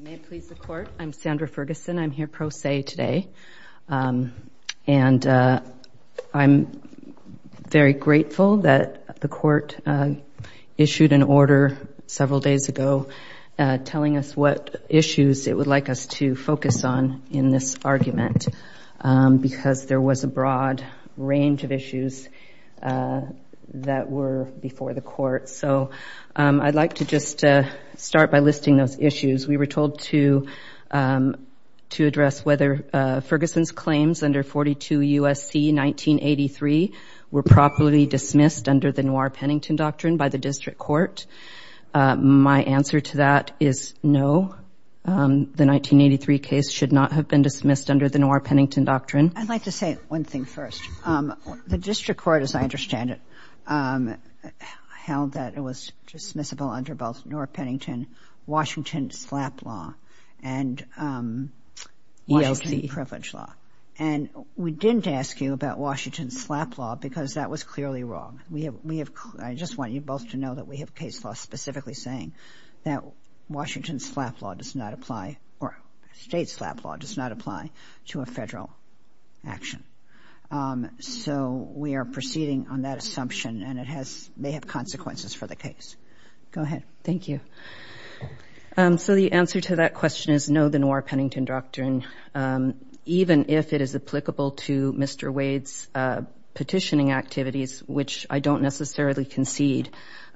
May it please the Court, I'm Sandra Ferguson, I'm here pro se today. And I'm very grateful that the Court issued an order several days ago, telling us what issues it would like us to focus on in this argument, because there was a broad range of issues that were before the Court. So I'd like to just start by listing those issues. We were told to address whether Ferguson's claims under 42 U.S.C. 1983 were properly dismissed under the Noir-Pennington Doctrine by the District Court. My answer to that is no. The 1983 case should not have been dismissed under the Noir-Pennington Doctrine. I'd like to say one thing first. The District Court, as I understand it, held that it was dismissible under both Noir-Pennington Washington SLAP law and Washington Privilege Law. And we didn't ask you about Washington SLAP law because that was clearly wrong. We have, I just want you both to know that we have case law specifically saying that Washington SLAP law does not apply or state SLAP law does not apply to a federal action. So we are proceeding on that assumption and it has, may have consequences for the case. Go ahead. Thank you. So the answer to that question is no, the Noir-Pennington Doctrine, even if it is applicable to Mr. Wade's petitioning activities, which I don't necessarily concede,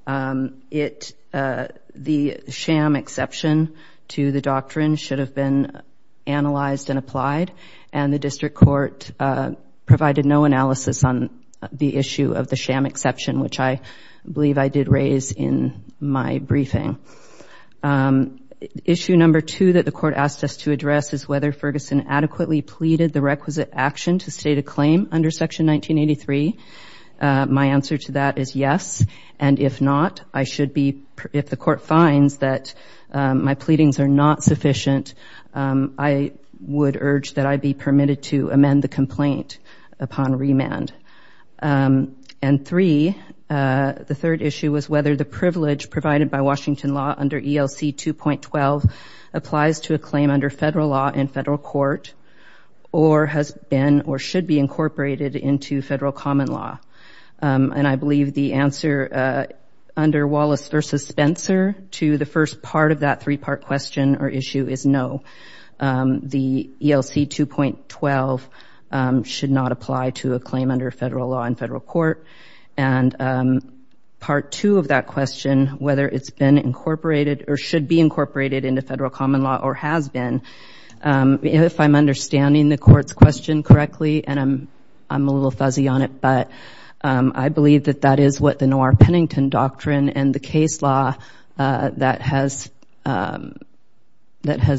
it, the sham exception to the doctrine should have been analyzed and applied. And the District Court provided no analysis on the issue of the sham exception, which I believe I did raise in my briefing. Issue number two that the court asked us to address is whether Ferguson adequately pleaded the requisite action to state a claim under Section 1983. My answer to that is yes. And if not, I should be, if the court finds that my pleadings are not sufficient, I would urge that I be permitted to amend the complaint upon remand. And three, the third issue was whether the privilege provided by Washington law under ELC 2.12 applies to a claim under federal law in federal court or has been or should be incorporated into federal common law. And I believe the answer under Wallace versus Spencer to the first part of that three-part question or issue is no. The ELC 2.12 should not apply to a claim under federal law in federal court. And part two of that question, whether it's been incorporated or should be incorporated into federal common law or has been, if I'm understanding the court's question correctly, and I'm a little fuzzy on it, but I believe that that is what the Noir-Pennington Doctrine and the case law that has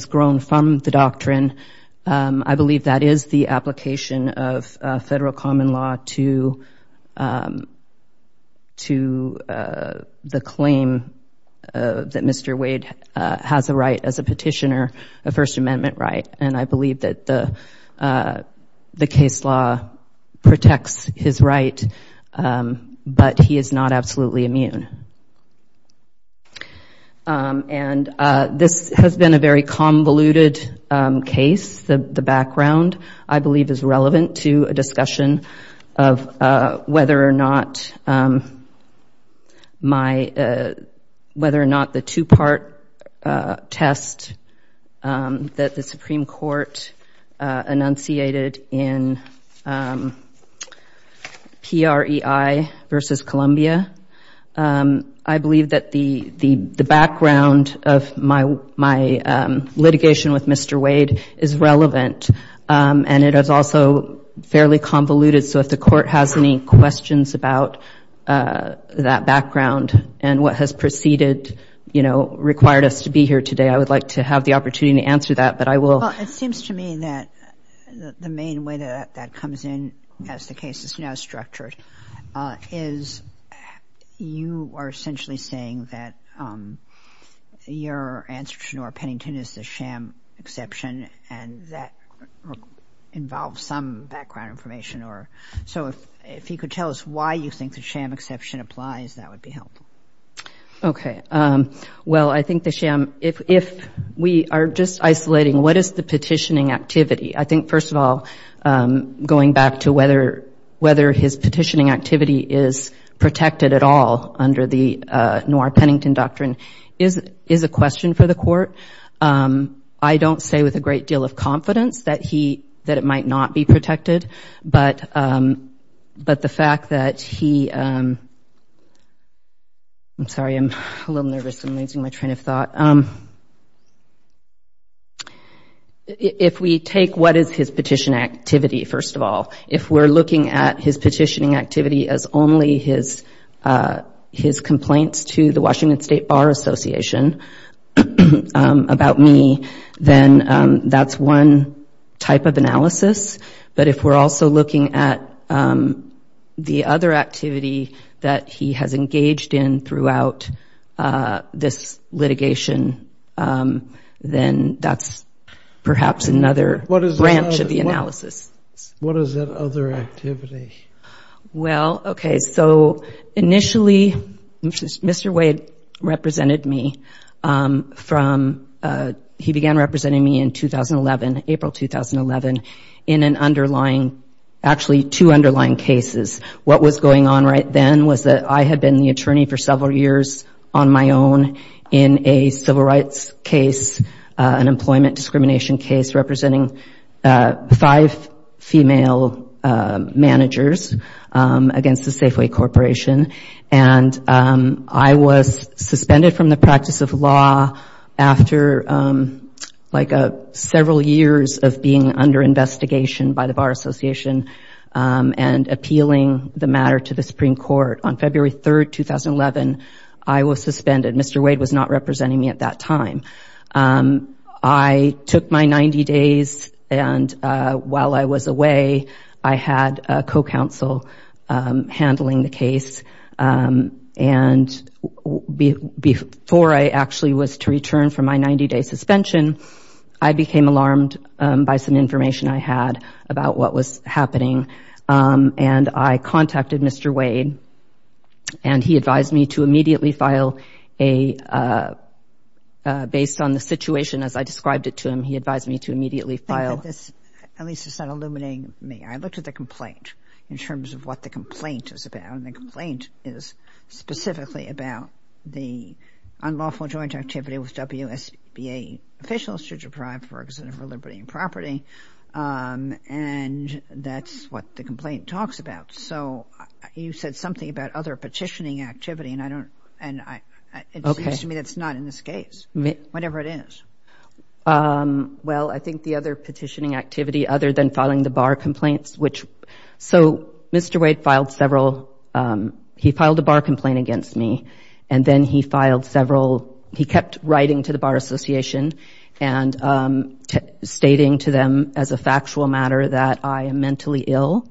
grown from the doctrine, I believe that is the application of federal common law to the claim that Mr. Wade has a right as a petitioner, a First Amendment right. And I believe that the case law protects his right, but he is not absolutely immune. And this has been a very convoluted case. The background, I believe, is relevant to a discussion of whether or not the two-part test that the Supreme Court enunciated in PREI versus Columbia I believe that the background of my litigation with Mr. Wade is relevant and it is also fairly convoluted. So if the court has any questions about that background and what has preceded, you know, required us to be here today, I would like to have the opportunity to answer that, but I will. Well, it seems to me that the main way that that comes in as the case is now structured is you are essentially saying that your answer to Norah Pennington is the sham exception and that involves some background information. So if you could tell us why you think the sham exception applies, that would be helpful. Okay. Well, I think the sham, if we are just isolating, what is the petitioning activity? I think, first of all, going back to whether his petitioning activity is protected at all under the Norah Pennington doctrine is a question for the court. I don't say with a great deal of confidence that he, that it might not be protected, but the fact that he, I'm sorry, I'm a little nervous. I'm losing my train of thought. But if we take what is his petition activity, first of all, if we're looking at his petitioning activity as only his complaints to the Washington State Bar Association about me, then that's one type of analysis. But if we're also looking at the other activity that he has engaged in throughout this litigation, then that's perhaps another branch of the analysis. What is that other activity? Well, okay. So initially, Mr. Wade represented me from, he began representing me in 2011, April 2011, in an underlying, actually two underlying cases. What was going on right then was that I had been the attorney for several years on my own in a civil rights case, an employment discrimination case, representing five female managers against the Safeway Corporation. And I was suspended from the practice of law after like several years of being under investigation by the Bar Association and appealing the matter to the Supreme Court. On February 3rd, 2011, I was suspended. Mr. Wade was not representing me at that time. I took my 90 days. And while I was away, I had a co-counsel handling the case. And before I actually was to return from my 90-day suspension, I became alarmed by some information I had. About what was happening. And I contacted Mr. Wade. And he advised me to immediately file a, based on the situation as I described it to him, he advised me to immediately file. I think that this, at least it's not illuminating me. I looked at the complaint in terms of what the complaint is about. And the complaint is specifically about the unlawful joint activity with WSBA officials to deprive Ferguson of her liberty and property. And that's what the complaint talks about. So you said something about other petitioning activity. And I don't, and it seems to me that's not in this case, whatever it is. Well, I think the other petitioning activity, other than filing the bar complaints, which, so Mr. Wade filed several, he filed a bar complaint against me. And then he filed several, he kept writing to the Bar Association and stating to them as a factual matter that I am mentally ill.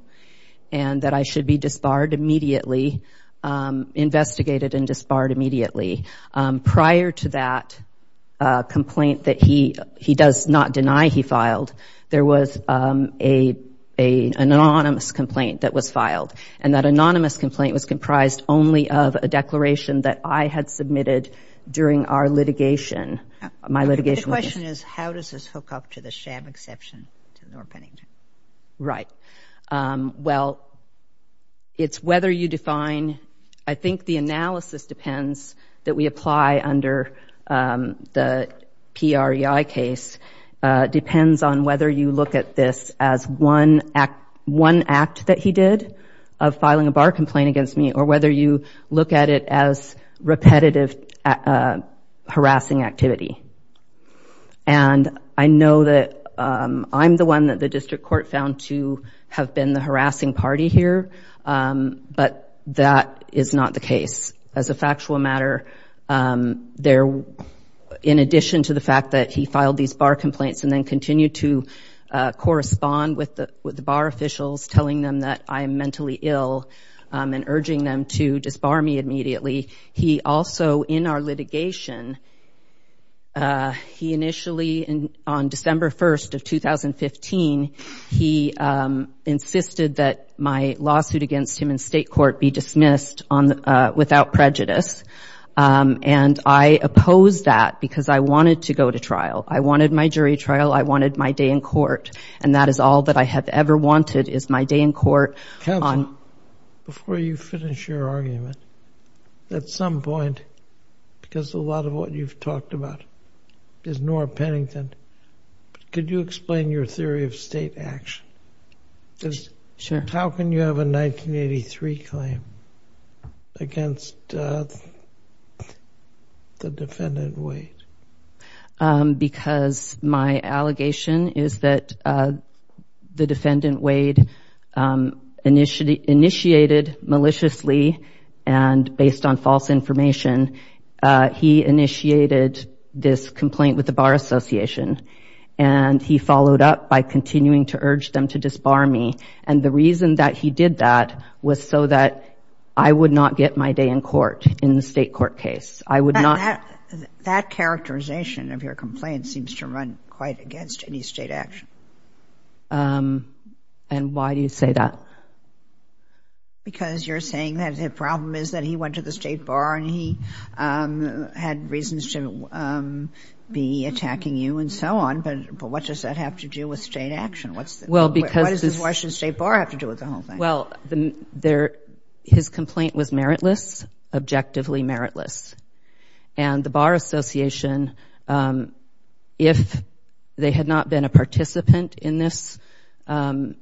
And that I should be disbarred immediately, investigated and disbarred immediately. Prior to that complaint that he does not deny he filed, there was an anonymous complaint that was filed. And that anonymous complaint was comprised only of a declaration that I had submitted during our litigation. My litigation... The question is, how does this hook up to the sham exception? Right. Well, it's whether you define, I think the analysis depends that we apply under the PREI case, depends on whether you look at this as one act that he did of filing a bar complaint against me, or whether you look at it as repetitive harassing activity. And I know that I'm the one that the district court found to have been the harassing party here. But that is not the case. As a factual matter, in addition to the fact that he filed these bar complaints and then continued to correspond with the bar officials, telling them that I am mentally ill and urging them to disbar me immediately. He also in our litigation, he initially on December 1st of 2015, he insisted that my lawsuit against him in state court be dismissed without prejudice. And I opposed that because I wanted to go to trial. I wanted my jury trial. I wanted my day in court. And that is all that I have ever wanted is my day in court. Counsel, before you finish your argument, at some point, because a lot of what you've talked about is Nora Pennington. Could you explain your theory of state action? How can you have a 1983 claim against the defendant Wade? Um, because my allegation is that the defendant Wade initiated maliciously and based on false information, he initiated this complaint with the Bar Association and he followed up by continuing to urge them to disbar me. And the reason that he did that was so that I would not get my day in court in the state court case. I would not. That characterization of your complaint seems to run quite against any state action. And why do you say that? Because you're saying that the problem is that he went to the state bar and he had reasons to be attacking you and so on. But what does that have to do with state action? What's the, what does the Washington State Bar have to do with the whole thing? Well, his complaint was meritless, objectively meritless. And the Bar Association, um, if they had not been a participant in this, um,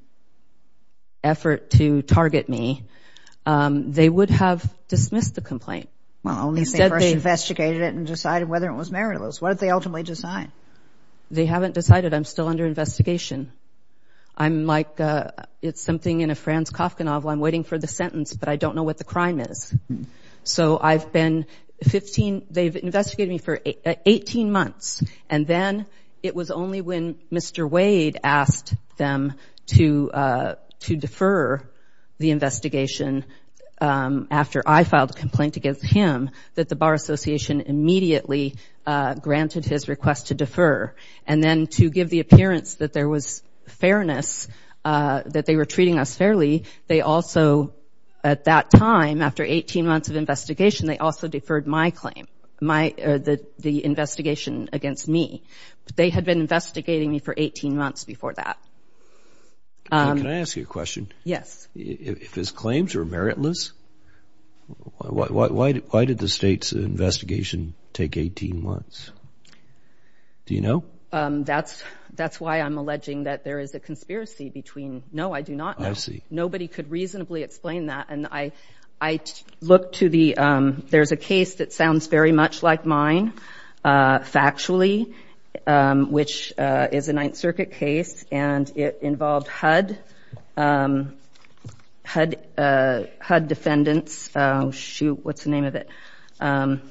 effort to target me, um, they would have dismissed the complaint. Well, at least they first investigated it and decided whether it was meritless. What did they ultimately decide? They haven't decided. I'm still under investigation. I'm like, uh, it's something in a Franz Kafka novel. I'm waiting for the sentence, but I don't know what the crime is. So I've been 15, they've investigated me for 18 months. And then it was only when Mr. Wade asked them to, uh, to defer the investigation, um, after I filed a complaint against him, that the Bar Association immediately, uh, granted his request to defer. And then to give the appearance that there was fairness, uh, that they were treating us fairly. They also, at that time, after 18 months of investigation, they also deferred my claim, my, uh, the investigation against me. They had been investigating me for 18 months before that. Can I ask you a question? Yes. If his claims are meritless, why did the state's investigation take 18 months? Do you know? Um, that's, that's why I'm alleging that there is a conspiracy between, no, I do not know. I see. Nobody could reasonably explain that. And I, I look to the, um, there's a case that sounds very much like mine, uh, factually, um, which, uh, is a Ninth Circuit case. And it involved HUD, um, HUD, uh, HUD defendants. Um, shoot, what's the name of it? Um,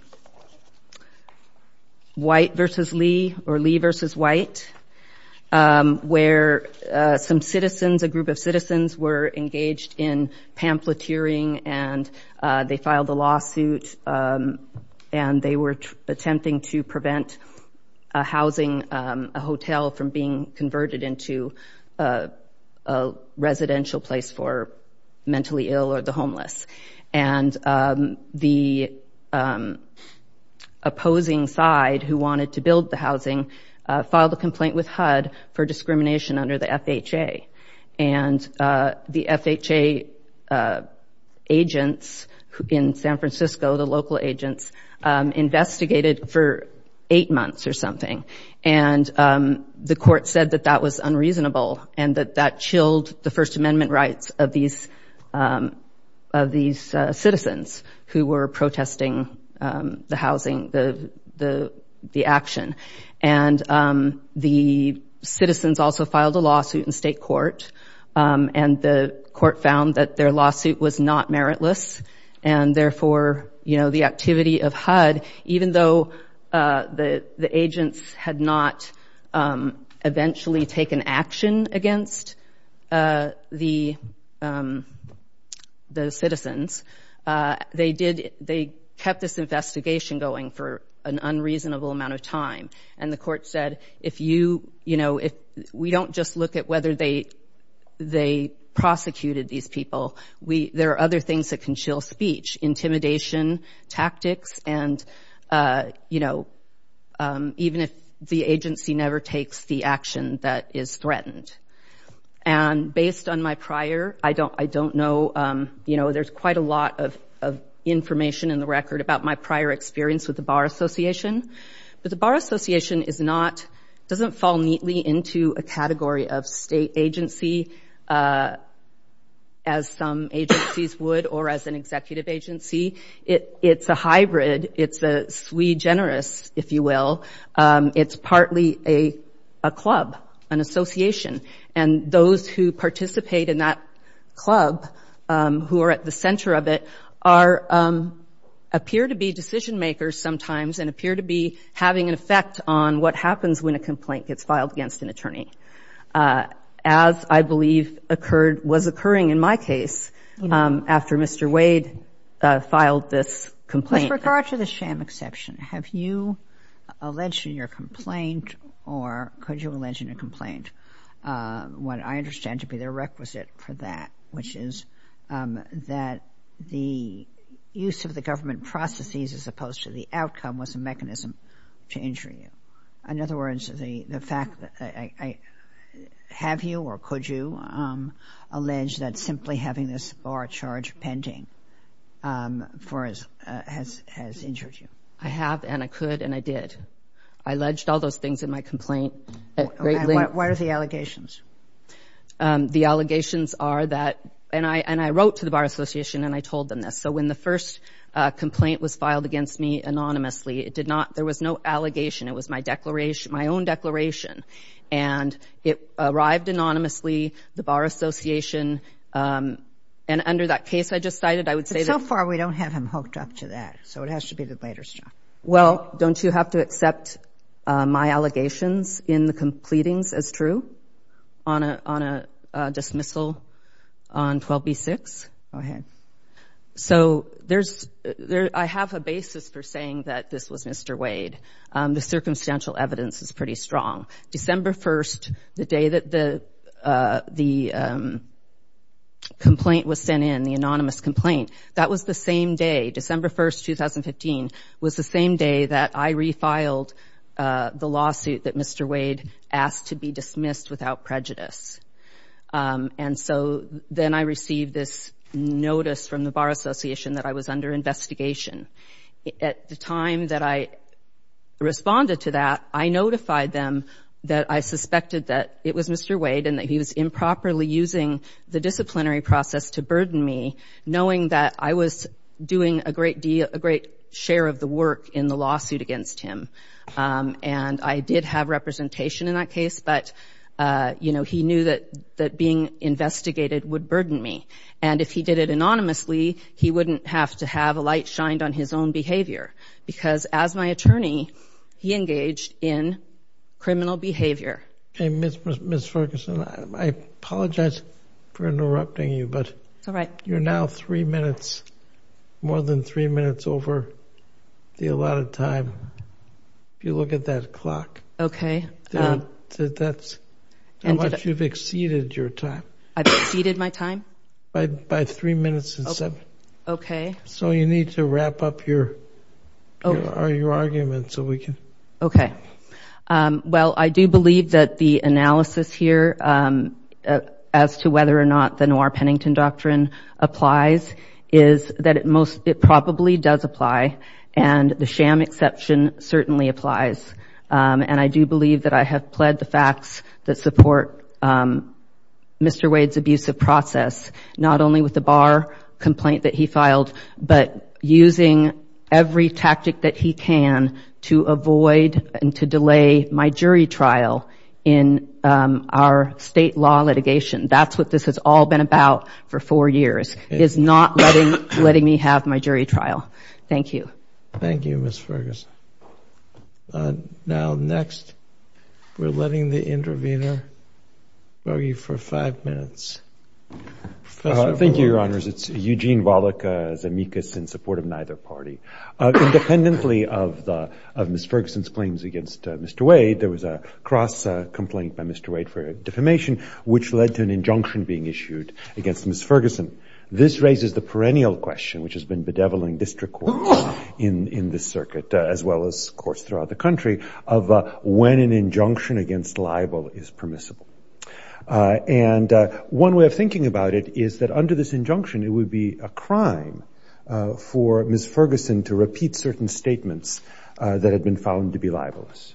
White versus Lee or Lee versus White, um, where, uh, some citizens, a group of citizens were engaged in pamphleteering and, uh, they filed a lawsuit. Um, and they were attempting to prevent a housing, um, a hotel from being converted into, uh, a residential place for mentally ill or the homeless. And, um, the, um, opposing side who wanted to build the housing, uh, filed a complaint with HUD for discrimination under the FHA. And, uh, the FHA, uh, agents in San Francisco, the local agents, um, investigated for eight months or something. And, um, the court said that that was unreasonable and that that chilled the First Amendment rights of these, um, of these, uh, citizens who were protesting, um, the housing, the, the, the action. And, um, the citizens also filed a lawsuit in state court. Um, and the court found that their lawsuit was not meritless and therefore, you know, the activity of HUD, even though, uh, the, the agents had not, um, eventually taken action against, uh, the, um, the citizens, uh, they did, they kept this investigation going for an unreasonable amount of time. And the court said, if you, you know, if we don't just look at whether they, they prosecuted these people, we, there are other things that can chill speech, intimidation, tactics, and, uh, you know, um, even if the agency never takes the action that is threatened. And based on my prior, I don't, I don't know, um, you know, there's quite a lot of, of information in the record about my prior experience with the Bar Association. But the Bar Association is not, doesn't fall neatly into a category of state agency, uh, as some agencies would or as an executive agency. It, it's a hybrid. It's a sui generis, if you will. Um, it's partly a, a club, an association. And those who participate in that club, um, who are at the center of it are, um, appear to be decision makers sometimes and appear to be having an effect on what happens when a complaint gets filed against an attorney, uh, as I believe occurred, was occurring in my case, um, after Mr. Wade, uh, filed this complaint. With regard to the sham exception, have you alleged in your complaint or could you allege in your complaint, um, what I understand to be the requisite for that, which is, um, that the use of the government processes as opposed to the outcome was a mechanism to injure you? In other words, the, the fact that I, I, have you or could you, um, allege that simply having this bar charge pending, um, for as, uh, has, has injured you? I have and I could and I did. I alleged all those things in my complaint at great length. What are the allegations? Um, the allegations are that, and I, and I wrote to the Bar Association and I told them this. So when the first, uh, complaint was filed against me anonymously, it did not, there was no allegation. It was my declaration, my own declaration. And it arrived anonymously, the Bar Association, um, and under that case I just cited, I would say that... But so far, we don't have him hooked up to that. So it has to be the later stuff. Well, don't you have to accept, uh, my allegations in the completings as true on a, on a, uh, dismissal on 12B6? Go ahead. So there's, there, I have a basis for saying that this was Mr. Wade. Um, the circumstantial evidence is pretty strong. December 1st, the day that the, uh, the, um, complaint was sent in, the anonymous complaint, that was the same day, December 1st, 2015, was the same day that I refiled, uh, the lawsuit that Mr. Wade asked to be dismissed without prejudice. Um, and so then I received this notice from the Bar Association that I was under investigation. At the time that I responded to that, I notified them that I suspected that it was Mr. Wade and that he was improperly using the disciplinary process to burden me, knowing that I was doing a great deal, a great share of the work in the lawsuit against him. Um, and I did have representation in that case, but, uh, you know, he knew that, that being investigated would burden me. And if he did it anonymously, he wouldn't have to have a light shined on his own behavior because as my attorney, he engaged in criminal behavior. Okay, Ms. Ferguson, I apologize for interrupting you, but you're now three minutes, more than three minutes over the allotted time. If you look at that clock. Okay. That's how much you've exceeded your time. I've exceeded my time? By three minutes and seven. Okay. So you need to wrap up your argument so we can. Okay. Well, I do believe that the analysis here, um, as to whether or not the Noir-Pennington doctrine applies is that it most, it probably does apply and the sham exception certainly applies. And I do believe that I have pled the facts that support, um, Mr. Wade's abusive process, not only with the bar complaint that he filed, but using every tactic that he can to avoid and to delay my jury trial in, um, our state law litigation. That's what this has all been about for four years, is not letting, letting me have my jury trial. Thank you. Thank you, Ms. Ferguson. Now, next, we're letting the intervener argue for five minutes. Thank you, Your Honors. It's Eugene Wallach as amicus in support of neither party. Independently of the, of Ms. Ferguson's claims against Mr. Wade, there was a cross complaint by Mr. Wade for defamation, which led to an injunction being issued against Ms. Ferguson. This raises the perennial question, which has been bedeviling district court in, in this circuit, as well as courts throughout the country of when an injunction against libel is permissible. And one way of thinking about it is that under this injunction, it would be a crime for Ms. Ferguson to repeat certain statements that had been found to be libelous.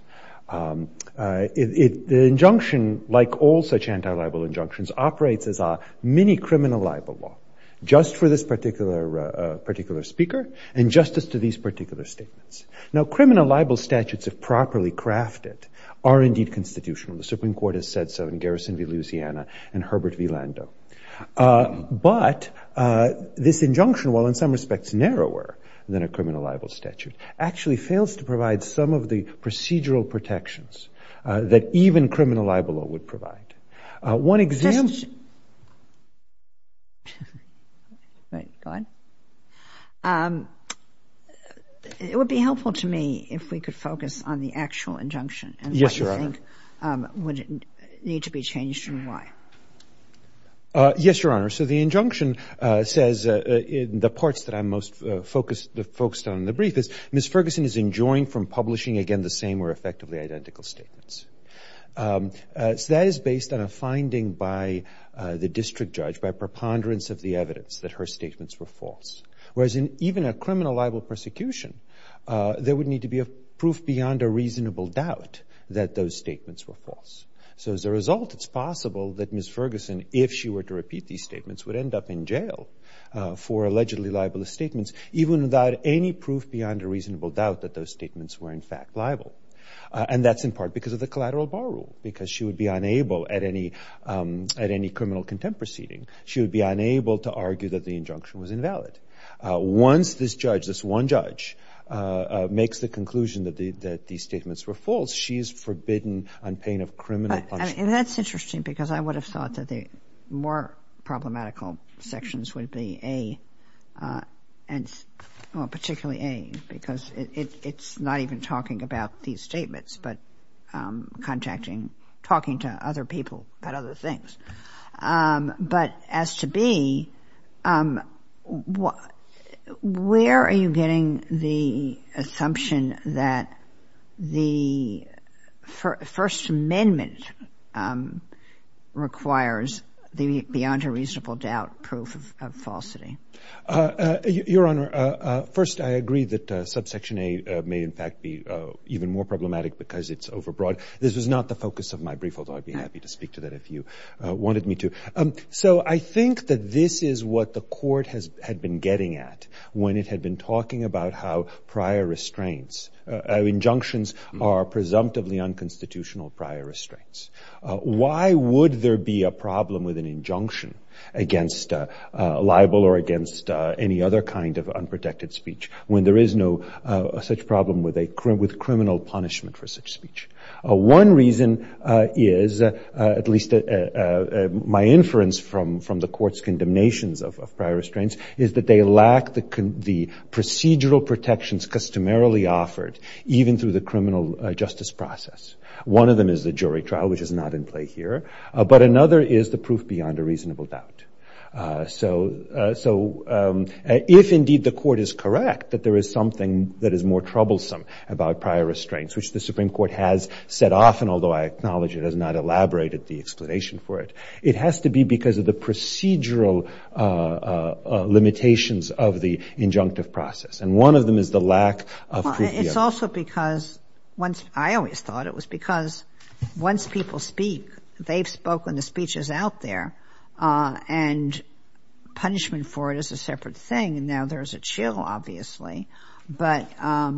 The injunction, like all such anti-libel injunctions, operates as a mini-criminal libel law, just for this particular, particular speaker, and justice to these particular statements. Now, criminal libel statutes, if properly crafted, are indeed constitutional. The Supreme Court has said so in Garrison v. Louisiana and Herbert v. Lando. But this injunction, while in some respects narrower than a criminal libel statute, actually fails to provide some of the procedural protections that even criminal libel law would provide. One example- Justice, right, go on. It would be helpful to me if we could focus on the actual injunction and what you think would need to be changed and why. Yes, Your Honor. So the injunction says, in the parts that I'm most focused on in the brief, is Ms. Ferguson is enjoined from publishing, again, the same or effectively identical statements. So that is based on a finding by the district judge, by preponderance of the evidence, that her statements were false. Whereas in even a criminal libel persecution, there would need to be a proof beyond a reasonable doubt that those statements were false. So as a result, it's possible that Ms. Ferguson, if she were to repeat these statements, would end up in jail for allegedly libelous statements, even without any proof beyond a reasonable doubt that those statements were, in fact, liable. And that's in part because of the collateral bar rule. Because she would be unable at any criminal contempt proceeding, she would be unable to argue that the injunction was invalid. Once this judge, this one judge, makes the conclusion that these statements were false, she is forbidden unpayment of criminal punishment. And that's interesting because I would have thought that the more problematical sections would be A, particularly A, because it's not even talking about these statements, but contacting, talking to other people about other things. But as to B, where are you getting the assumption that the First Amendment requires the beyond a reasonable doubt proof of falsity? Your Honor, first, I agree that subsection A may, in fact, be even more problematic because it's overbroad. This was not the focus of my brief, although I'd be happy to speak to that if you wanted me to. So I think that this is what the court had been getting at when it had been talking about how prior restraints, injunctions are presumptively unconstitutional prior restraints. Why would there be a problem with an injunction against libel or against any other kind of unprotected speech when there is no such problem with criminal punishment for such speech? One reason is, at least my inference from the court's condemnations of prior restraints, is that they lack the procedural protections customarily offered even through the criminal justice process. One of them is the jury trial, which is not in play here. But another is the proof beyond a reasonable doubt. So if, indeed, the court is correct that there is something that is more troublesome about prior restraints, which the Supreme Court has set off, and although I acknowledge it has not elaborated the explanation for it, it has to be because of the procedural limitations of the injunctive process. And one of them is the lack of proof beyond a reasonable doubt. Well, it's also because once — I always thought it was because once people speak, they've spoken, the speech is out there, and punishment for it is a separate thing. And now there's a chill, obviously. But, I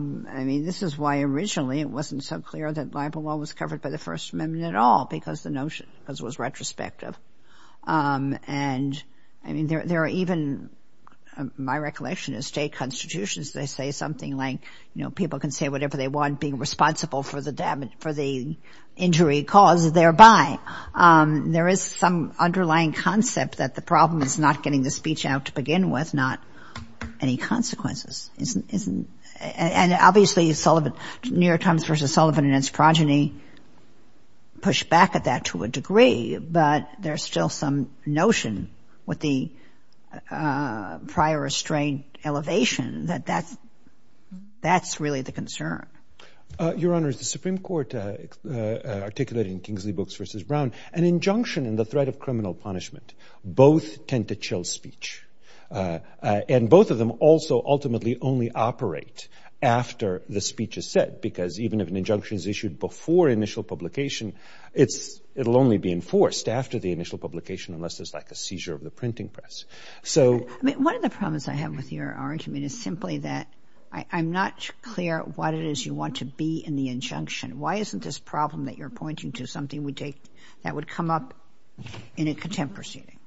mean, this is why originally it wasn't so clear that libel law was covered by the First Amendment at all, because the notion — because it was retrospective. And, I mean, there are even — my recollection is state constitutions, they say something like, you know, people can say whatever they want, being responsible for the injury caused thereby. There is some underlying concept that the problem is not getting the speech out to begin with, not any consequences. Isn't — and obviously, New York Times versus Sullivan and its progeny push back at that to a degree, but there's still some notion with the prior restraint elevation that that's really the concern. Your Honor, the Supreme Court articulated in Kingsley Books versus Brown, an injunction in the threat of criminal punishment. Both tend to chill speech. And both of them also ultimately only operate after the speech is said, because even if an injunction is issued before initial publication, it's — it'll only be enforced after the initial publication unless there's, like, a seizure of the printing press. So — I mean, one of the problems I have with your argument is simply that I'm not clear what it is you want to be in the injunction. Why isn't this problem that you're pointing to something we take that would come up in a contempt proceeding?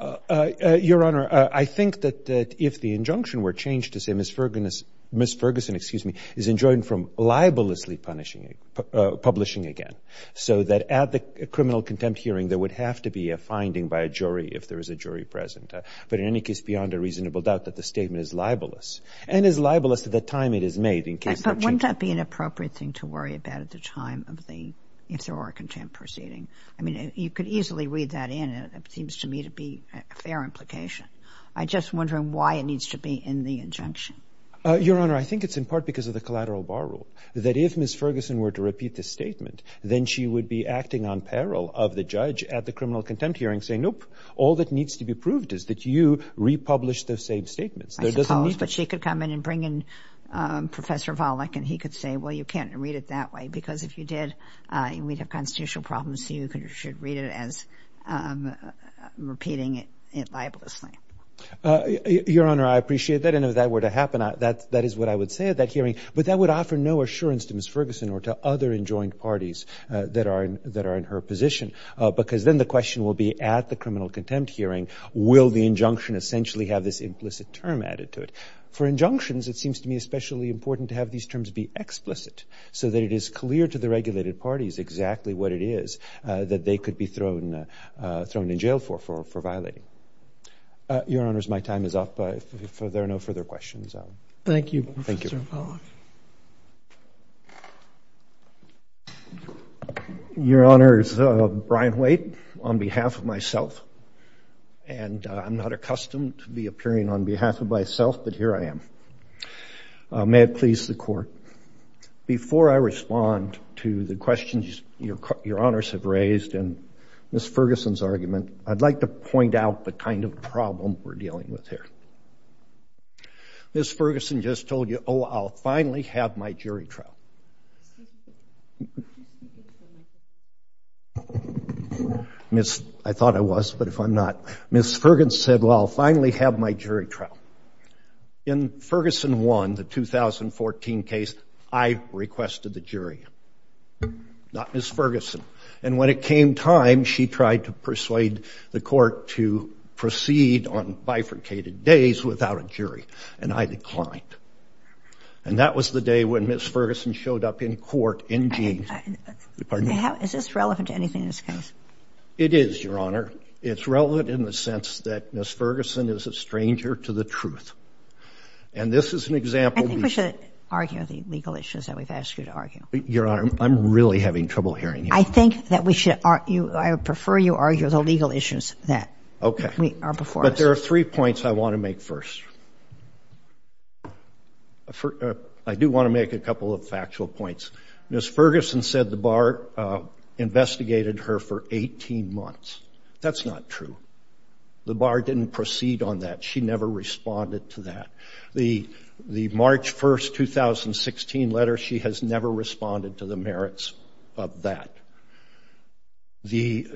Your Honor, I think that if the injunction were changed to say Ms. Ferguson — Ms. Ferguson, excuse me, is enjoined from libelously punishing — publishing again, so that at the criminal contempt hearing, there would have to be a finding by a jury if there is a jury present. But in any case, beyond a reasonable doubt that the statement is libelous, and is libelous at the time it is made in case — But wouldn't that be an appropriate thing to worry about at the time of the — if I mean, you could easily read that in, and it seems to me to be a fair implication. I'm just wondering why it needs to be in the injunction. Your Honor, I think it's in part because of the collateral bar rule, that if Ms. Ferguson were to repeat this statement, then she would be acting on peril of the judge at the criminal contempt hearing saying, nope, all that needs to be proved is that you republish those same statements. I suppose, but she could come in and bring in Professor Volokh, and he could say, well, you can't read it that way, because if you did, we'd have constitutional problems, so you should read it as repeating it libelously. Your Honor, I appreciate that. And if that were to happen, that is what I would say at that hearing. But that would offer no assurance to Ms. Ferguson or to other enjoined parties that are in her position. Because then the question will be at the criminal contempt hearing, will the injunction essentially have this implicit term added to it? For injunctions, it seems to me especially important to have these terms be explicit, so that it is clear to the regulated parties exactly what it is that they could be thrown in jail for violating. Your Honors, my time is up. If there are no further questions. Thank you, Professor Volokh. Your Honors, Brian Waite on behalf of myself. And I'm not accustomed to be appearing on behalf of myself, but here I am. May it please the Court. Before I respond to the questions your Honors have raised and Ms. Ferguson's argument, I'd like to point out the kind of problem we're dealing with here. Ms. Ferguson just told you, oh, I'll finally have my jury trial. I thought I was, but if I'm not. Ms. Ferguson said, well, I'll finally have my jury trial. In Ferguson 1, the 2014 case, I requested the jury. Not Ms. Ferguson. And when it came time, she tried to persuade the Court to proceed on bifurcated days without a jury. And I declined. And that was the day when Ms. Ferguson showed up in court. Is this relevant to anything in this case? It is, your Honor. It's relevant in the sense that Ms. Ferguson is a stranger to the truth. And this is an example. I think we should argue the legal issues that we've asked you to argue. Your Honor, I'm really having trouble hearing you. I think that we should argue, I would prefer you argue the legal issues that are before us. But there are three points I want to make first. I do want to make a couple of factual points. Ms. Ferguson said the bar investigated her for 18 months. That's not true. The bar didn't proceed on that. She never responded to that. The March 1, 2016 letter, she has never responded to the merits of that.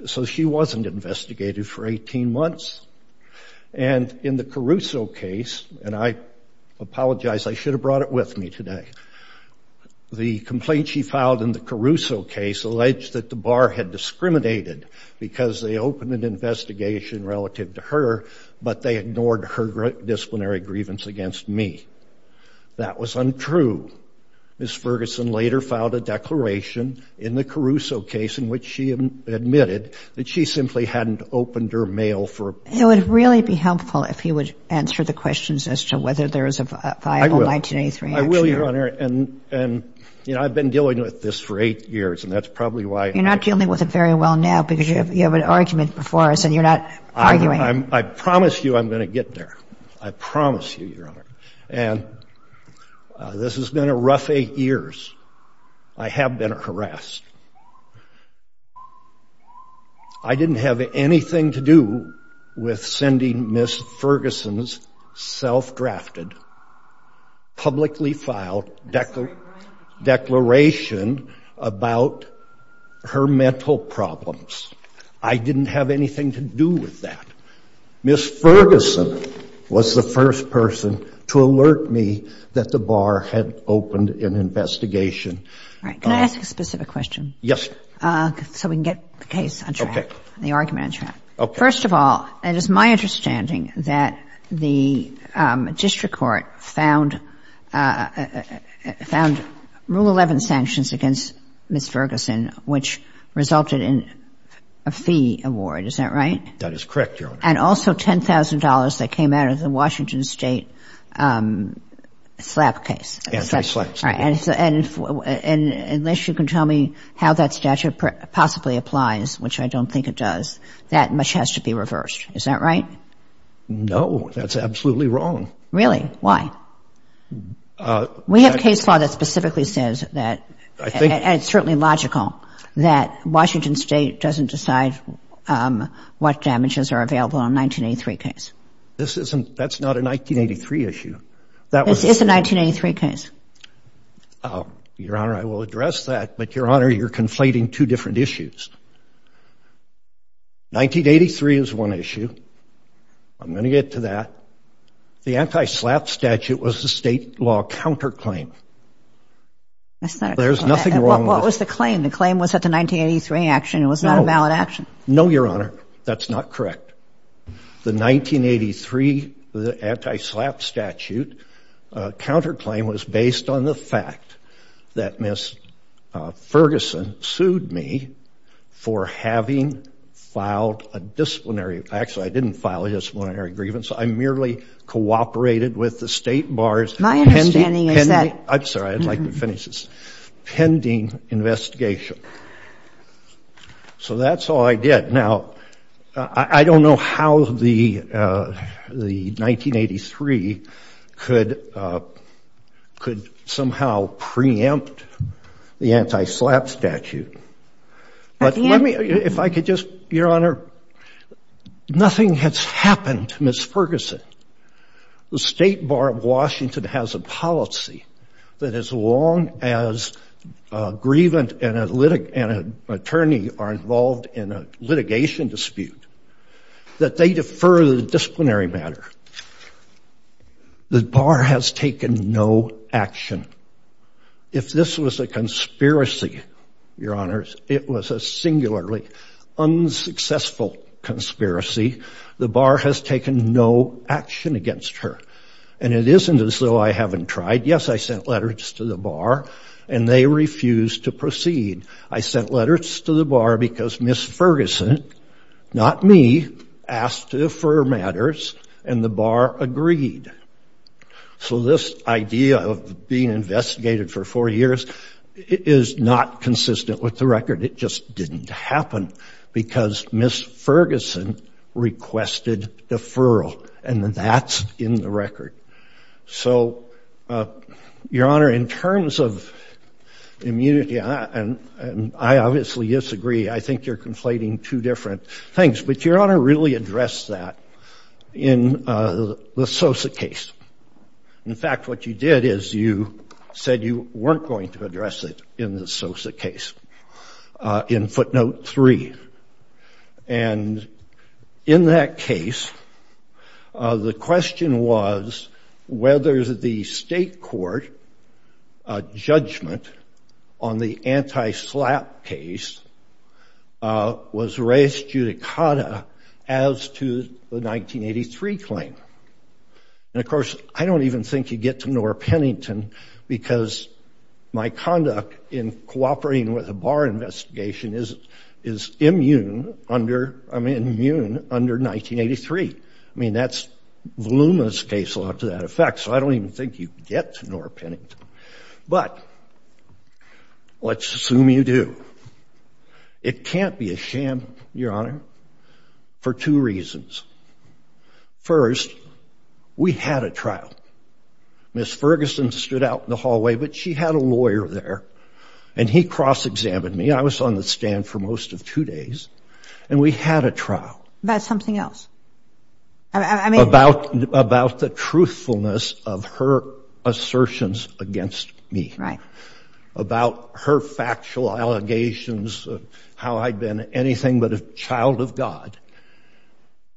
So she wasn't investigated for 18 months. And in the Caruso case, and I apologize, I should have brought it with me today. The complaint she filed in the Caruso case alleged that the bar had discriminated because they opened an investigation relative to her, but they ignored her disciplinary grievance against me. That was untrue. Ms. Ferguson later filed a declaration in the Caruso case in which she admitted that she simply hadn't opened her mail for a period of time. It would really be helpful if you would answer the questions as to whether there is a viable 1983 action. I will, your Honor. And, you know, I've been dealing with this for eight years, and that's probably why— You're not dealing with it very well now because you have an argument before us and you're not arguing. I promise you I'm going to get there. I promise you, your Honor. And this has been a rough eight years. I have been harassed. I didn't have anything to do with sending Ms. Ferguson's self-drafted, publicly filed declaration about her mental problems. I didn't have anything to do with that. Ms. Ferguson was the first person to alert me that the bar had opened an investigation. Right. Can I ask a specific question? Yes. So we can get the case on track, the argument on track. Okay. First of all, it is my understanding that the district court found Rule 11 sanctions against Ms. Ferguson, which resulted in a fee award. Is that right? That is correct, your Honor. And also $10,000 that came out of the Washington State slap case. Anti-slap case. Right. And unless you can tell me how that statute possibly applies, which I don't think it does, that much has to be reversed. Is that right? No, that's absolutely wrong. Really? Why? We have case law that specifically says that, and it's certainly logical, that Washington State doesn't decide what damages are available on a 1983 case. This isn't, that's not a 1983 issue. This is a 1983 case. Your Honor, I will address that. But, your Honor, you're conflating two different issues. 1983 is one issue. I'm going to get to that. The anti-slap statute was the state law counterclaim. There's nothing wrong with it. What was the claim? The claim was that the 1983 action was not a valid action. No, your Honor. That's not correct. The 1983 anti-slap statute counterclaim was based on the fact that Ms. Ferguson sued me for having filed a disciplinary, actually, I didn't file a disciplinary grievance. I merely cooperated with the state bars. My understanding is that... I'm sorry, I'd like to finish this. Pending investigation. So that's all I did. Now, I don't know how the 1983 could somehow preempt the anti-slap statute. But let me, if I could just, your Honor, nothing has happened to Ms. Ferguson. The state bar of Washington has a policy that as long as a grievant and an attorney are involved in a litigation dispute, that they defer the disciplinary matter. The bar has taken no action. If this was a conspiracy, your Honor, it was a singularly unsuccessful conspiracy. The bar has taken no action against her. And it isn't as though I haven't tried. Yes, I sent letters to the bar and they refused to proceed. I sent letters to the bar because Ms. Ferguson, not me, asked to defer matters and the bar agreed. So this idea of being investigated for four years is not consistent with the record. It just didn't happen because Ms. Ferguson requested deferral. And that's in the record. So, your Honor, in terms of immunity, and I obviously disagree. I think you're conflating two different things. But your Honor really addressed that in the Sosa case. In fact, what you did is you said you weren't going to address it in the Sosa case in footnote 3. And in that case, the question was whether the state court judgment on the anti-SLAPP case was res judicata as to the 1983 claim. And of course, I don't even think you get to Noor-Pennington because my conduct in cooperating with a bar investigation is immune under 1983. I mean, that's Voluma's case law to that effect. So I don't even think you get to Noor-Pennington. But let's assume you do. It can't be a sham, your Honor, for two reasons. First, we had a trial. Ms. Ferguson stood out in the hallway, but she had a lawyer there. And he cross-examined me. I was on the stand for most of two days. And we had a trial. About something else? About the truthfulness of her assertions against me. Right. Her factual allegations of how I'd been anything but a child of God.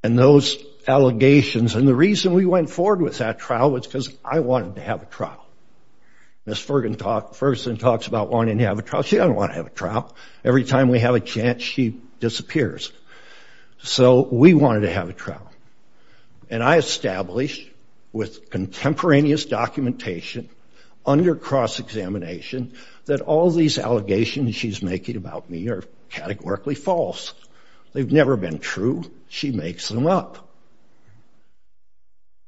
And those allegations. And the reason we went forward with that trial was because I wanted to have a trial. Ms. Ferguson talks about wanting to have a trial. She doesn't want to have a trial. Every time we have a chance, she disappears. So we wanted to have a trial. And I established with contemporaneous documentation under cross-examination that all these allegations she's making about me are categorically false. They've never been true. She makes them up.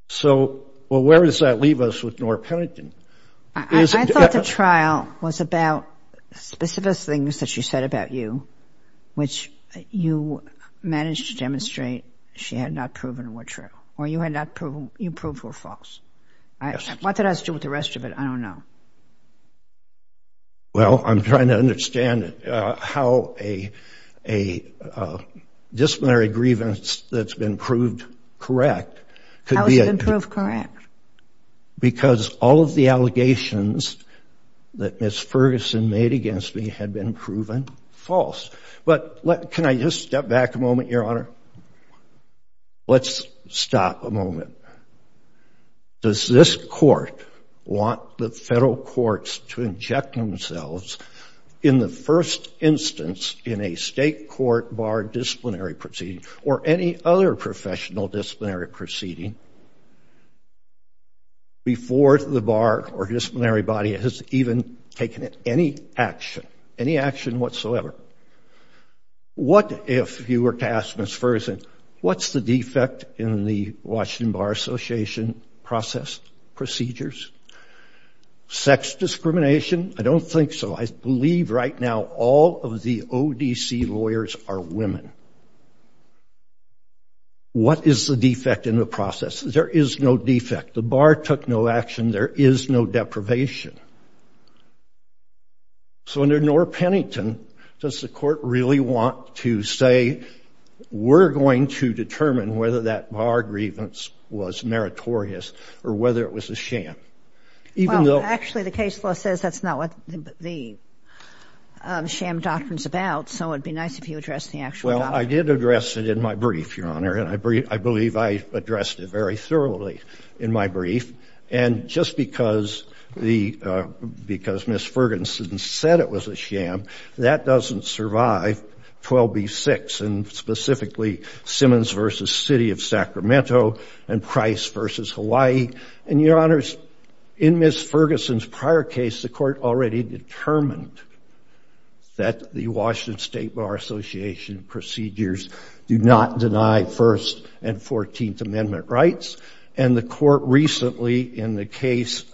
So, well, where does that leave us with Noor-Pennington? I thought the trial was about specific things that she said about you, which you managed to demonstrate she had not proven were true. Or you had not proven, you proved were false. What did I do with the rest of it? I don't know. Well, I'm trying to understand how a disciplinary grievance that's been proved correct. How has it been proved correct? Because all of the allegations that Ms. Ferguson made against me had been proven false. But can I just step back a moment, Your Honor? Let's stop a moment. Does this court want the federal courts to inject themselves in the first instance in a state court bar disciplinary proceeding, or any other professional disciplinary proceeding, before the bar or disciplinary body has even taken any action, any action whatsoever? What if you were to ask Ms. Ferguson, what's the defect in the Washington Bar Association process procedures? Sex discrimination? I don't think so. I believe right now all of the ODC lawyers are women. What is the defect in the process? There is no defect. The bar took no action. There is no deprivation. So under Noor-Pennington, does the court really want to say, we're going to determine whether that bar grievance was meritorious, or whether it was a sham? Well, actually, the case law says that's not what the sham doctrine's about. So it'd be nice if you addressed the actual doctrine. Well, I did address it in my brief, Your Honor. And I believe I addressed it very thoroughly in my brief. And just because Ms. Ferguson said it was a sham, that doesn't survive 12b-6. Specifically, Simmons v. City of Sacramento and Price v. Hawaii. And Your Honors, in Ms. Ferguson's prior case, the court already determined that the Washington State Bar Association procedures do not deny First and 14th Amendment rights. And the court recently, in the case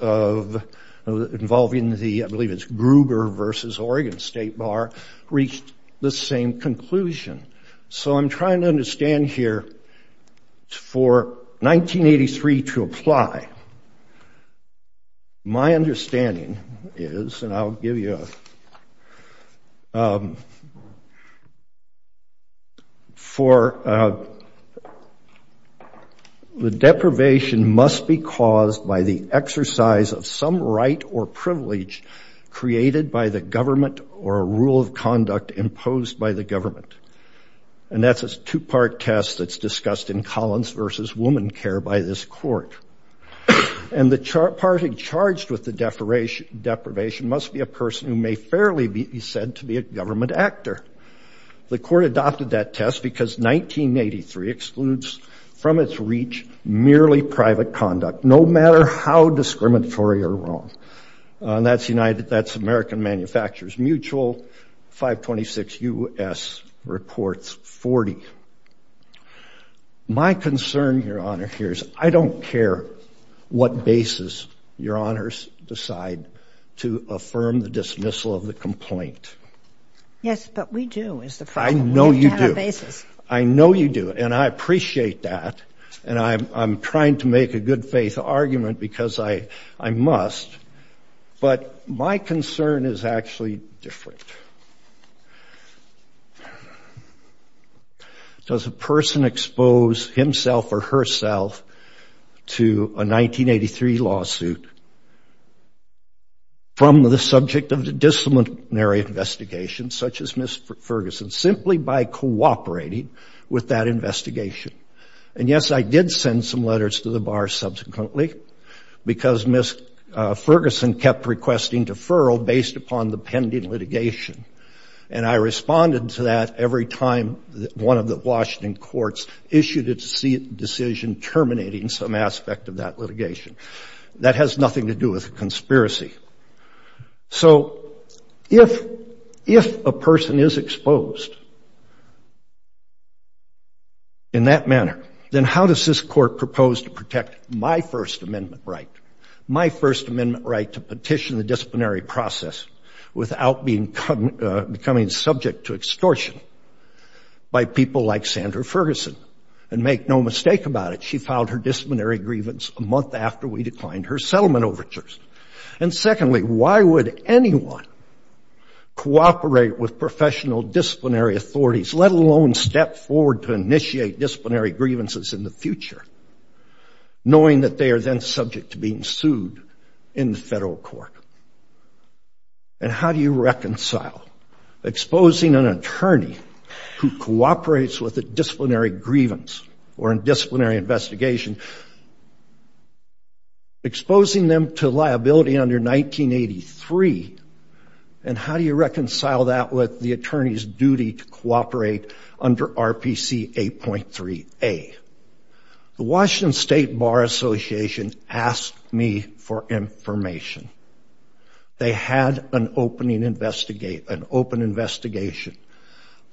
involving the, I believe it's Gruber v. Oregon State Bar, reached the same conclusion. So I'm trying to understand here, for 1983 to apply, my understanding is, and I'll give you a For the deprivation must be caused by the exercise of some right or privilege created by the government or a rule of conduct imposed by the government. And that's a two-part test that's discussed in Collins v. Woman Care by this court. And the party charged with the deprivation must be a person who may fairly be said to be a government actor. The court adopted that test because 1983 excludes from its reach merely private conduct, no matter how discriminatory or wrong. That's United, that's American Manufacturers Mutual, 526 U.S. reports 40. My concern, Your Honor, here is I don't care what basis Your Honors decide to affirm the dismissal of the complaint. Yes, but we do, is the point. I know you do. I know you do. And I appreciate that. And I'm trying to make a good faith argument because I must. But my concern is actually different. Does a person expose himself or herself to a 1983 lawsuit from the subject of the disciplinary investigation, such as Ms. Ferguson, simply by cooperating with that investigation? And yes, I did send some letters to the bar subsequently because Ms. Ferguson kept requesting deferral based upon the pending litigation. And I responded to that every time one of the Washington courts issued a decision terminating some aspect of that litigation. That has nothing to do with a conspiracy. So if a person is exposed in that manner, then how does this court propose to protect my First Amendment right, my First Amendment right to petition the disciplinary process without becoming subject to extortion by people like Sandra Ferguson? And make no mistake about it, she filed her disciplinary grievance a month after we declined her settlement overtures. And secondly, why would anyone cooperate with professional disciplinary authorities, let alone step forward to initiate disciplinary grievances in the future, knowing that they are then subject to being sued in the federal court? And how do you reconcile exposing an attorney who cooperates with a disciplinary grievance or a disciplinary investigation, exposing them to liability under 1983? And how do you reconcile that with the attorney's duty to cooperate under RPC 8.3a? The Washington State Bar Association asked me for information. They had an open investigation.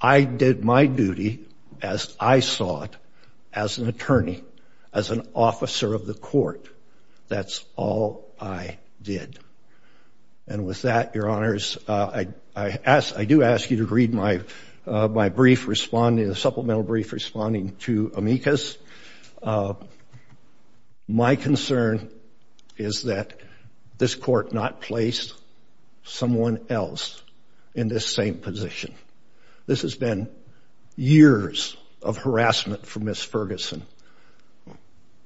I did my duty as I saw it, as an attorney, as an officer of the court. That's all I did. And with that, your honors, I do ask you to read my brief responding, a supplemental brief responding to Amicus. My concern is that this court not placed someone else in this same position. This has been years of harassment for Ms. Ferguson.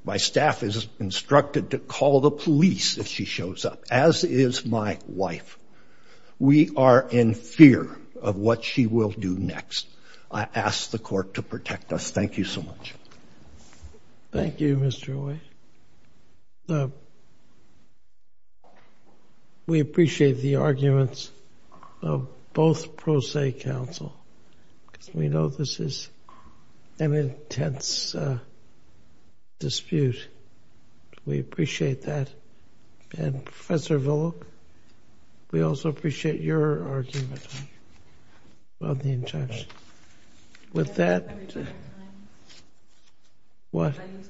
My staff is instructed to call the police if she shows up, as is my wife. We are in fear of what she will do next. I ask the court to protect us. Thank you so much. Thank you, Mr. White. We appreciate the arguments of both pro se counsel, because we know this is an intense dispute. We appreciate that. And Professor Villok, we also appreciate your argument on the intention. With that, I use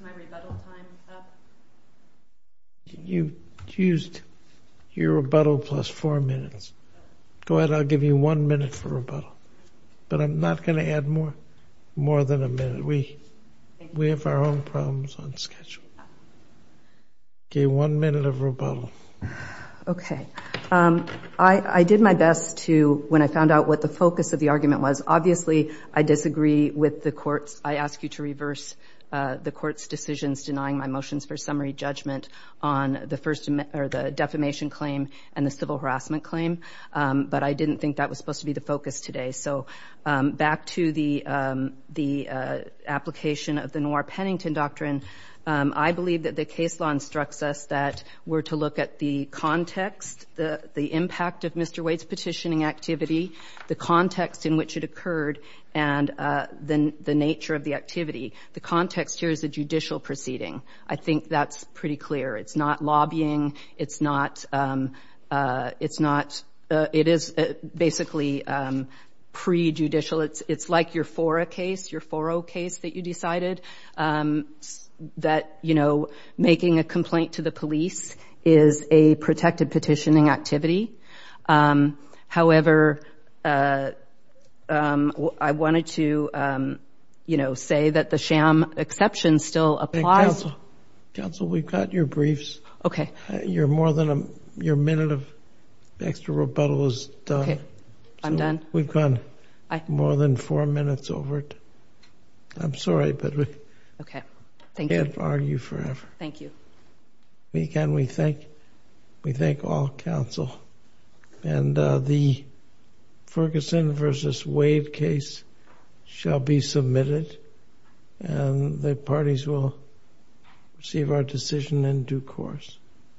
my rebuttal time up. You used your rebuttal plus four minutes. Go ahead. I'll give you one minute for rebuttal. But I'm not going to add more than a minute. We have our own problems on schedule. Okay, one minute of rebuttal. Okay. I did my best to, when I found out what the focus of the argument was, obviously, I disagree with the court's. I ask you to reverse the court's decisions denying my motions for summary judgment on the defamation claim and the civil harassment claim. But I didn't think that was supposed to be the focus today. So back to the application of the Noir-Pennington Doctrine, I believe that the case law instructs us that we're to look at the context, the impact of Mr. White's petitioning activity, the context in which it occurred, and the nature of the activity. The context here is a judicial proceeding. I think that's pretty clear. It's not lobbying. It's not, it's not, it is basically pre-judicial. It's like your Foro case, your Foro case that you decided that, you know, making a complaint to the police is a protected petitioning activity. However, I wanted to, you know, say that the sham exception still applies. Counsel, we've got your briefs. Okay. You're more than, your minute of extra rebuttal is done. Okay, I'm done. We've gone more than four minutes over it. I'm sorry, but we can't argue forever. Thank you. We can, we thank, we thank all counsel and the Ferguson versus Wade case shall be submitted and the parties will receive our decision in due course.